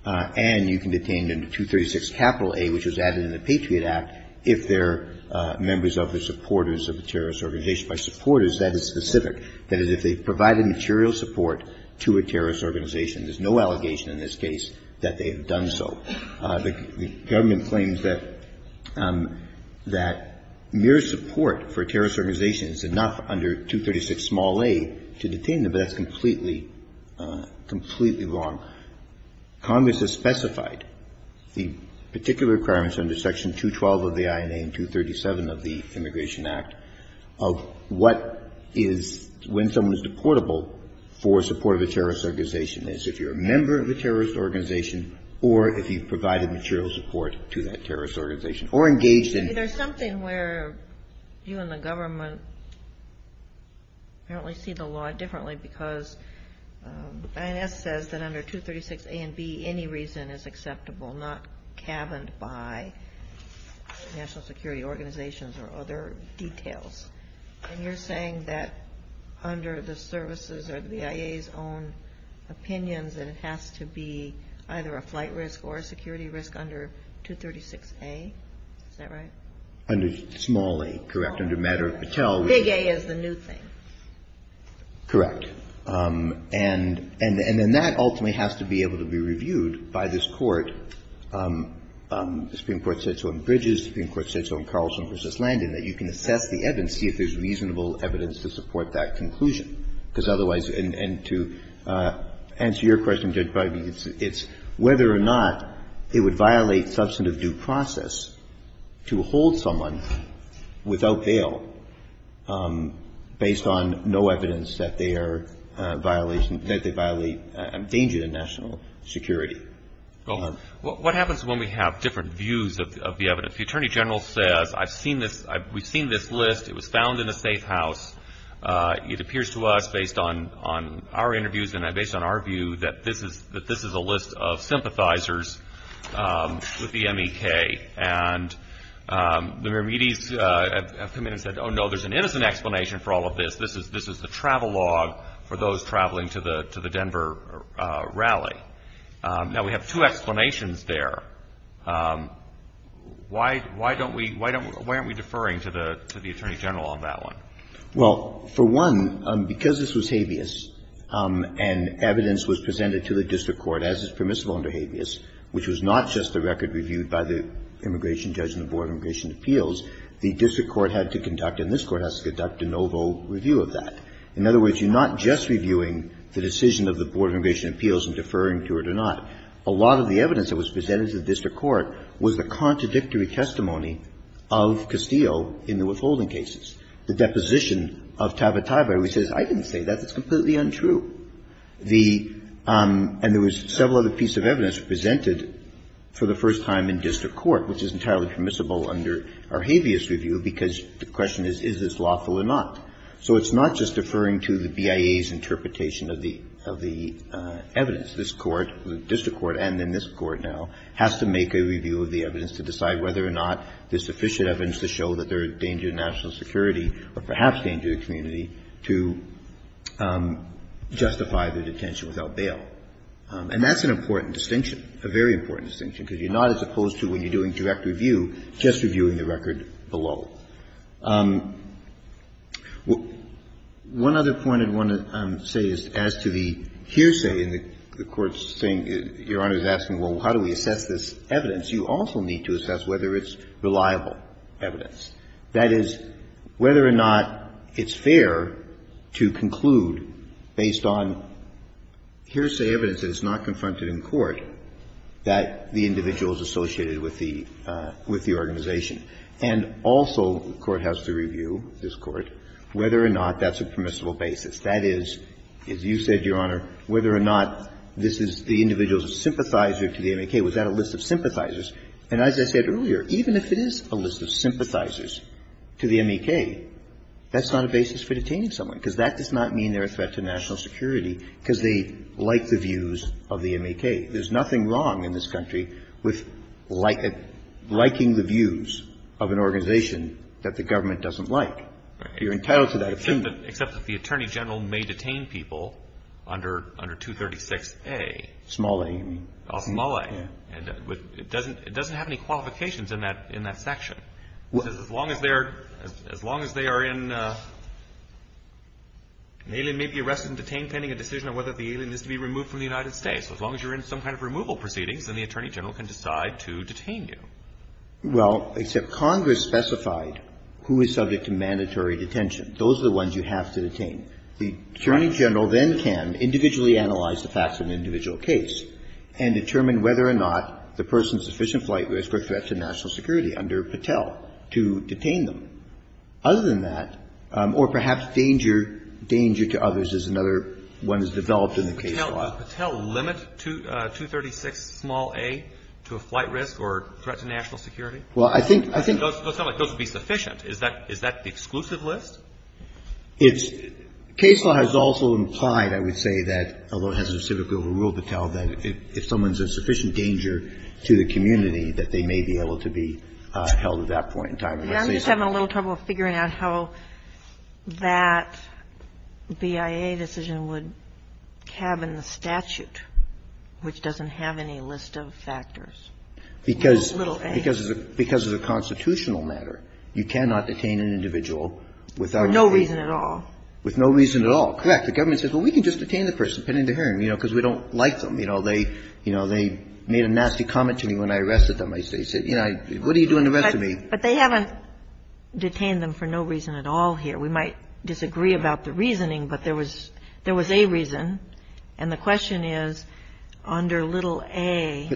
And you can detain under 236A, which was added in the Patriot Act, if they're members of the supporters of a terrorist organization. By supporters, that is specific. That is, if they've provided material support to a terrorist organization. There's no allegation in this case that they have done so. The government claims that – that mere support for a terrorist organization is enough under 236a to detain them, but that's completely, completely wrong. Congress has specified the particular requirements under Section 212 of the INA and 237 of the Immigration Act of what is – when someone is deportable for support of a terrorist organization is if you're a member of a terrorist organization or if you've provided material support to that terrorist organization or engaged in – There's something where you and the government apparently see the law differently because INS says that under 236a and b, any reason is acceptable, not cabined by national security organizations or other details. And you're saying that under the services or the BIA's own opinions that it has to be either a flight risk or a security risk under 236a? Is that right? Under small a, correct. Under matter of Patel. Big a is the new thing. Correct. And – and then that ultimately has to be able to be reviewed by this Court. The Supreme Court said so in Bridges. The Supreme Court said so in Carlson v. Landon that you can assess the evidence and see if there's reasonable evidence to support that conclusion. Because otherwise – and to answer your question, Judge Breyman, it's whether or not it would violate substantive due process to hold someone without bail based on no evidence that they are violation – that they violate – endanger the national security. Well, what happens when we have different views of the evidence? If the Attorney General says, I've seen this – we've seen this list. It was found in a safe house. It appears to us based on – on our interviews and based on our view that this is – that this is a list of sympathizers with the M.E.K. And the Miramides have come in and said, oh, no, there's an innocent explanation for all of this. This is – this is the travel log for those traveling to the – to the Denver rally. Now, we have two explanations there. Why – why don't we – why don't – why aren't we deferring to the – to the Attorney General on that one? Well, for one, because this was habeas and evidence was presented to the district court as is permissible under habeas, which was not just the record reviewed by the immigration judge and the Board of Immigration Appeals, the district court had to conduct and this court has to conduct a novo review of that. In other words, you're not just reviewing the decision of the Board of Immigration Appeals and deferring to it or not. A lot of the evidence that was presented to the district court was the contradictory testimony of Castillo in the withholding cases. The deposition of Tabataba, who says, I didn't say that. That's completely untrue. The – and there was several other pieces of evidence presented for the first time in district court, which is entirely permissible under our habeas review, because the question is, is this lawful or not? So it's not just deferring to the BIA's interpretation of the – of the evidence. This court, the district court and then this court now, has to make a review of the evidence to decide whether or not there's sufficient evidence to show that there is danger to national security or perhaps danger to the community to justify the detention without bail. And that's an important distinction, a very important distinction, because you're not, as opposed to when you're doing direct review, just reviewing the record below. One other point I want to say is as to the hearsay and the Court's saying, Your Honor is asking, well, how do we assess this evidence? You also need to assess whether it's reliable evidence. That is, whether or not it's fair to conclude based on hearsay evidence that is not confronted in court that the individual is associated with the – with the organization And also, the Court has to review, this Court, whether or not that's a permissible basis. That is, as you said, Your Honor, whether or not this is the individual's sympathizer to the MEK. Was that a list of sympathizers? And as I said earlier, even if it is a list of sympathizers to the MEK, that's not a basis for detaining someone, because that does not mean they're a threat to national security, because they like the views of the MEK. There's nothing wrong in this country with liking the views of an organization that the government doesn't like. You're entitled to that opinion. Except that the Attorney General may detain people under 236A. Small A, you mean. Small A. It doesn't have any qualifications in that section. As long as they are in – an alien may be arrested and detained pending a decision on whether the alien is to be removed from the United States. As long as you're in some kind of removal proceedings, then the Attorney General can decide to detain you. Well, except Congress specified who is subject to mandatory detention. Those are the ones you have to detain. The Attorney General then can individually analyze the facts of an individual case and determine whether or not the person is a sufficient flight risk or threat to national security under Patel to detain them. Other than that, or perhaps danger, danger to others is another one that's developed in the case law. Does Patel limit 236 small A to a flight risk or threat to national security? Well, I think, I think. It doesn't sound like those would be sufficient. Is that, is that the exclusive list? It's – case law has also implied, I would say, that, although it has a specific overrule, Patel, that if someone's a sufficient danger to the community, that they may be able to be held at that point in time. I'm just having a little trouble figuring out how that BIA decision would have in the statute, which doesn't have any list of factors. Because it's a constitutional matter. You cannot detain an individual without a reason. For no reason at all. With no reason at all. Correct. The government says, well, we can just detain the person, pending the hearing, you know, because we don't like them. You know, they, you know, they made a nasty comment to me when I arrested them. They said, you know, what are you doing to rescue me? But they haven't detained them for no reason at all here. We might disagree about the reasoning, but there was, there was a reason. And the question is, under little a,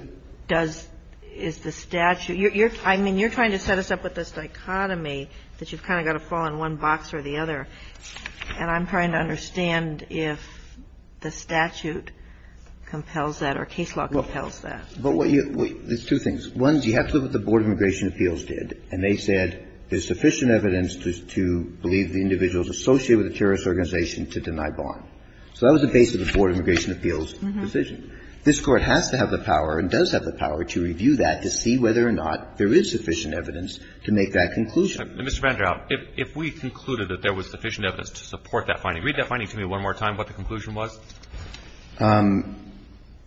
does, is the statute – you're, I mean, you're trying to set us up with this dichotomy that you've kind of got to fall in one box or the other, and I'm trying to understand if the statute compels that or case law compels that. But what you – there's two things. One is you have to look at what the Board of Immigration Appeals did, and they said there's sufficient evidence to believe the individual is associated with a terrorist organization to deny bond. So that was the basis of the Board of Immigration Appeals' decision. This Court has to have the power and does have the power to review that to see whether or not there is sufficient evidence to make that conclusion. Mr. Vanderholt, if we concluded that there was sufficient evidence to support that finding, read that finding to me one more time, what the conclusion was.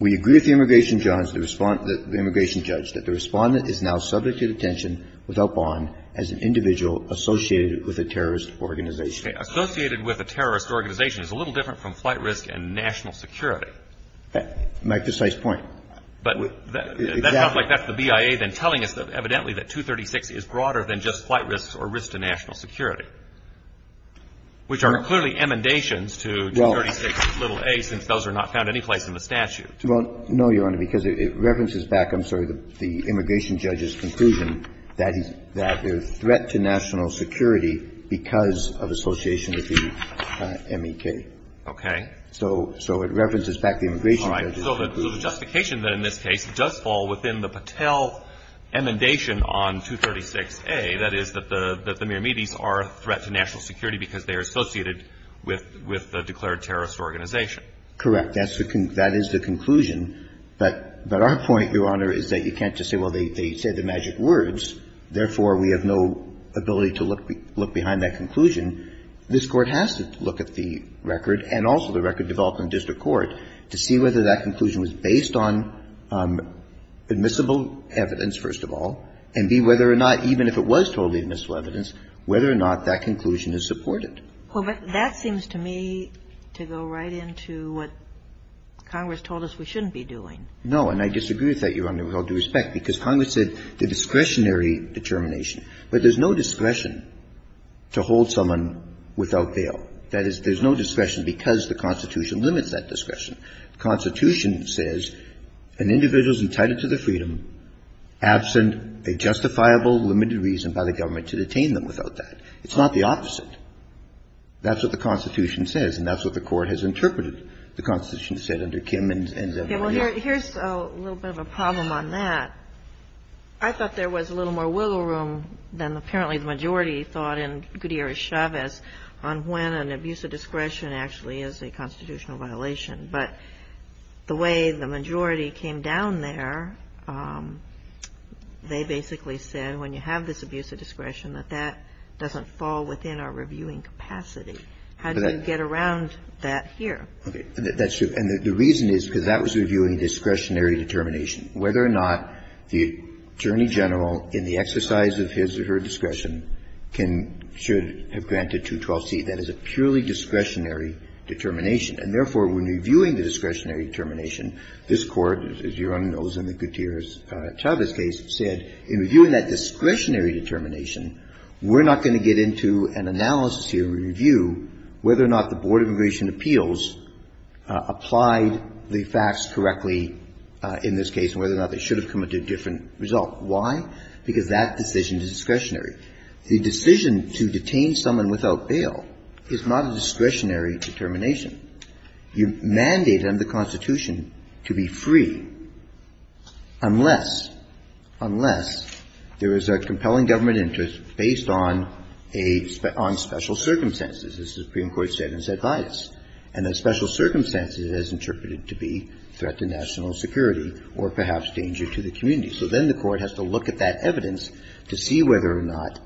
We agree with the immigration judge that the respondent is now subject to detention without bond as an individual associated with a terrorist organization. Okay. Associated with a terrorist organization is a little different from flight risk and national security. My precise point. But that sounds like that's the BIA then telling us evidently that 236 is broader than just flight risks or risk to national security, which are clearly emendations to 236's little a. Since those are not found any place in the statute. Well, no, Your Honor, because it references back, I'm sorry, the immigration judge's conclusion that there's threat to national security because of association with the M.E.K. Okay. So it references back the immigration judge's conclusion. All right. So the justification then in this case does fall within the Patel emendation on 236a, that is, that the Miramides are a threat to national security because they are associated with the declared terrorist organization. Correct. That is the conclusion. But our point, Your Honor, is that you can't just say, well, they said the magic words. Therefore, we have no ability to look behind that conclusion. This Court has to look at the record and also the record developed in district court to see whether that conclusion was based on admissible evidence, first of all, and be whether or not, even if it was totally admissible evidence, whether or not that conclusion is supported. That seems to me to go right into what Congress told us we shouldn't be doing. No. And I disagree with that, Your Honor, with all due respect, because Congress said the discretionary determination. But there's no discretion to hold someone without bail. That is, there's no discretion because the Constitution limits that discretion. The Constitution says an individual is entitled to the freedom absent a justifiable limited reason by the government to detain them without that. It's not the opposite. That's what the Constitution says, and that's what the Court has interpreted the Constitution said under Kim and Zevon. Yeah. Well, here's a little bit of a problem on that. I thought there was a little more wiggle room than apparently the majority thought in Gutierrez-Chavez on when an abuse of discretion actually is a constitutional violation. But the way the majority came down there, they basically said when you have this How do you get around that here? Okay. That's true. And the reason is because that was reviewing discretionary determination. Whether or not the Attorney General, in the exercise of his or her discretion, can or should have granted 212C, that is a purely discretionary determination. And therefore, when reviewing the discretionary determination, this Court, as Your Honor knows in the Gutierrez-Chavez case, said in reviewing that discretionary determination, we're not going to get into an analysis here and review whether or not the Board of Immigration Appeals applied the facts correctly in this case and whether or not they should have committed a different result. Why? Because that decision is discretionary. The decision to detain someone without bail is not a discretionary determination. You mandate under the Constitution to be free unless, unless there is a compelling government interest based on a — on special circumstances, as the Supreme Court said in its advice. And the special circumstances is interpreted to be threat to national security or perhaps danger to the community. So then the Court has to look at that evidence to see whether or not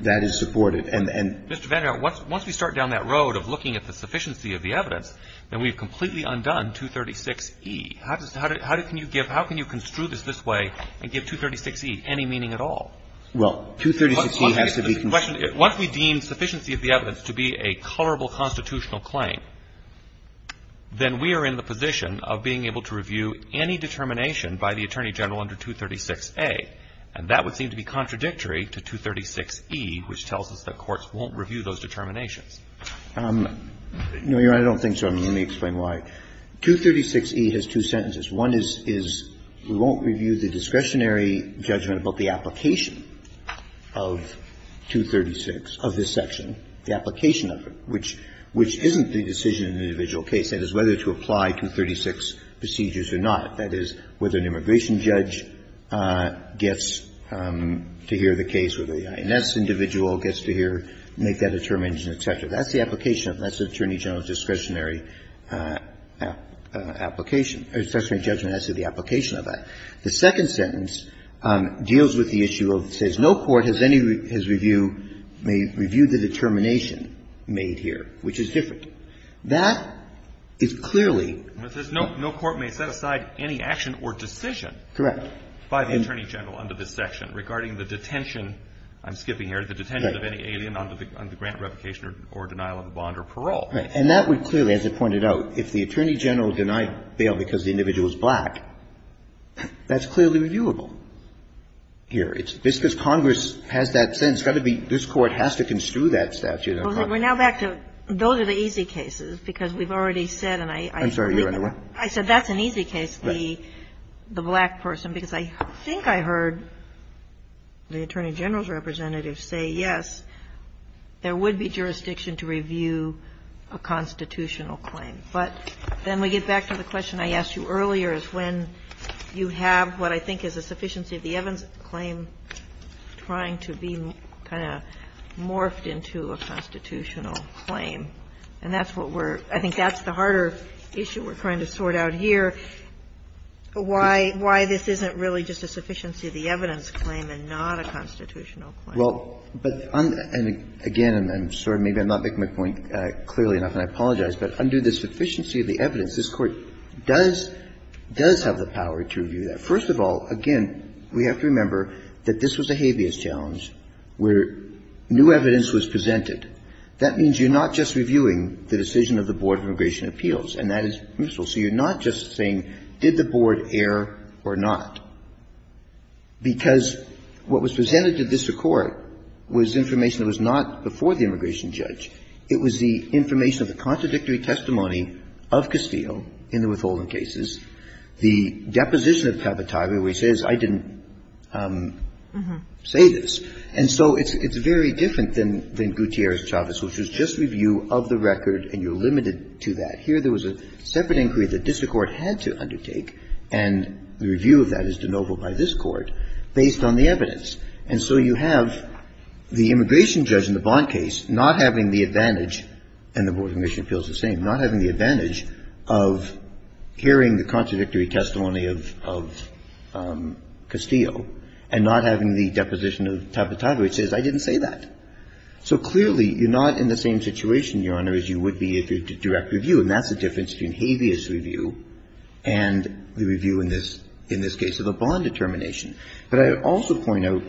that is supported. And the — Mr. Vander Hill, once we start down that road of looking at the sufficiency of the evidence, then we've completely undone 236E. How does — how can you give — how can you construe this this way and give 236E any meaning at all? Well, 236E has to be — Once we deem sufficiency of the evidence to be a colorable constitutional claim, then we are in the position of being able to review any determination by the Attorney General under 236A. And that would seem to be contradictory to 236E, which tells us that courts won't review those determinations. No, Your Honor, I don't think so. And let me explain why. 236E has two sentences. One is — is we won't review the discretionary judgment about the application of 236 of this section, the application of it, which — which isn't the decision in the individual case. That is, whether to apply 236 procedures or not. That is, whether an immigration judge gets to hear the case, whether the INS individual gets to hear — make that determination, et cetera. That's the application of it. That's the Attorney General's discretionary application — discretionary judgment as to the application of that. The second sentence deals with the issue of — says no court has any — has reviewed — may review the determination made here, which is different. That is clearly — But it says no court may set aside any action or decision — Correct. — by the Attorney General under this section regarding the detention — I'm skipping Correct. — of any alien under the grant revocation or denial of a bond or parole. Right. And that would clearly, as it pointed out, if the Attorney General denied bail because the individual is black, that's clearly reviewable here. It's — just because Congress has that sentence, it's got to be — this Court has to construe that statute on Congress. Well, we're now back to — those are the easy cases, because we've already said, and I — I'm sorry. You're on the line. I said that's an easy case, the black person, because I think I heard the Attorney General's representative say, yes, there would be jurisdiction to review a constitutional claim. But then we get back to the question I asked you earlier, is when you have what I think is a sufficiency of the evidence claim trying to be kind of morphed into a constitutional claim. And that's what we're — I think that's the harder issue we're trying to sort out here, why this isn't really just a sufficiency of the evidence claim and not a constitutional claim. Well, but — and again, I'm sorry, maybe I'm not making my point clearly enough, and I apologize. But under the sufficiency of the evidence, this Court does — does have the power to review that. First of all, again, we have to remember that this was a habeas challenge where new evidence was presented. That means you're not just reviewing the decision of the Board of Immigration Appeals, and that is permissible. So you're not just saying, did the Board err or not? Because what was presented to this Court was information that was not before the immigration judge. It was the information of the contradictory testimony of Castillo in the withholding cases, the deposition of Tabataba where he says, I didn't say this. And so it's very different than Gutierrez-Chavez, which was just review of the record and you're limited to that. Here, there was a separate inquiry that district court had to undertake, and the review of that is de novo by this Court, based on the evidence. And so you have the immigration judge in the Blount case not having the advantage — and the Board of Immigration Appeals is the same — not having the advantage of hearing the contradictory testimony of Castillo and not having the deposition of Tabataba, which says, I didn't say that. So clearly, you're not in the same situation, Your Honor, as you would be if you were in a direct review. And that's the difference between habeas review and the review in this — in this case of the Blount determination. But I would also point out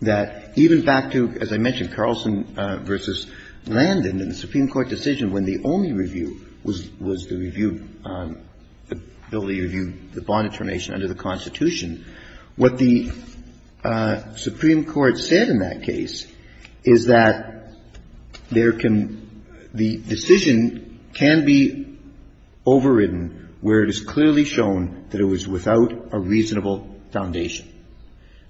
that even back to, as I mentioned, Carlson v. Landon in the Supreme Court decision when the only review was the review — the ability to review the Blount determination under the Constitution, what the Supreme Court said in that case is that there can — the decision can be overridden where it is clearly shown that it was without a reasonable foundation.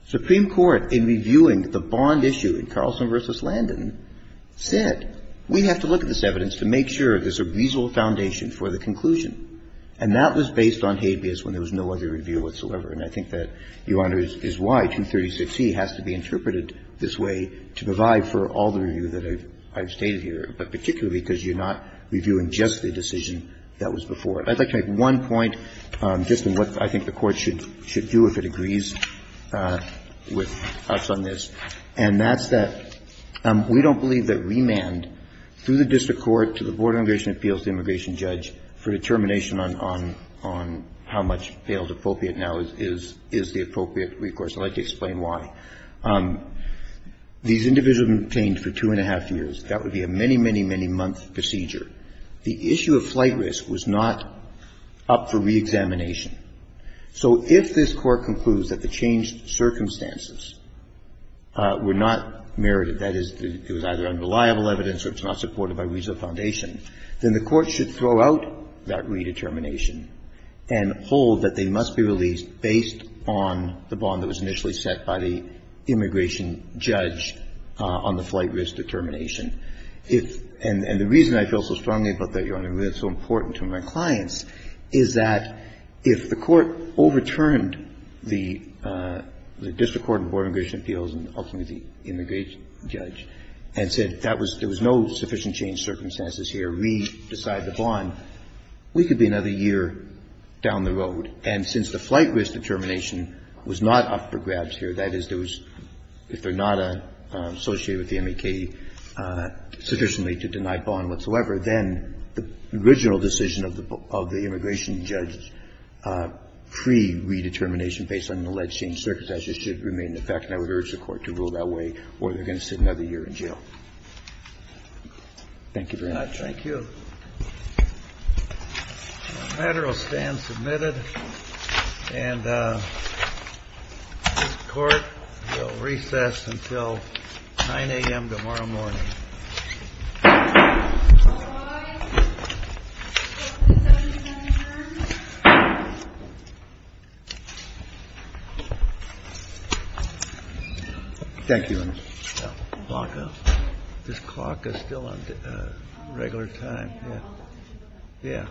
Supreme Court, in reviewing the Bond issue in Carlson v. Landon, said, we have to look at this evidence to make sure there's a reasonable foundation for the conclusion. And that was based on habeas when there was no other review whatsoever. And I think that, Your Honor, is why 236e has to be interpreted this way to provide for all the review that I've stated here, but particularly because you're not reviewing just the decision that was before it. I'd like to make one point, just in what I think the Court should do if it agrees with us on this, and that's that we don't believe that remand through the district court, to the Board of Immigration Appeals, the immigration judge, for determination on how much failed appropriate now is the appropriate recourse. I'd like to explain why. These individuals have been detained for two-and-a-half years. That would be a many, many, many-month procedure. The issue of flight risk was not up for reexamination. So if this Court concludes that the changed circumstances were not merited, that is, it was either unreliable evidence or it's not supported by reasonable foundation, then the Court should throw out that redetermination and hold that they must be released based on the bond that was initially set by the immigration judge on the flight risk determination. And the reason I feel so strongly about that, Your Honor, and that's so important to my clients, is that if the Court overturned the district court and the Board of Immigration Appeals, and ultimately the immigration judge, and said there was no sufficient change circumstances here, re-decide the bond, we could be another year down the road. And since the flight risk determination was not up for grabs here, that is, if they're not associated with the MAK sufficiently to deny bond whatsoever, then the original decision of the immigration judge's pre-redetermination based on the alleged changed circumstances should remain in effect, and I would urge the Court to rule that way or we're going to sit another year in jail. Thank you very much. Thank you. The matter will stand submitted, and the Court will recess until 9 a.m. tomorrow morning. Thank you, Your Honor. This clock is still on regular time. Yeah. Thank you.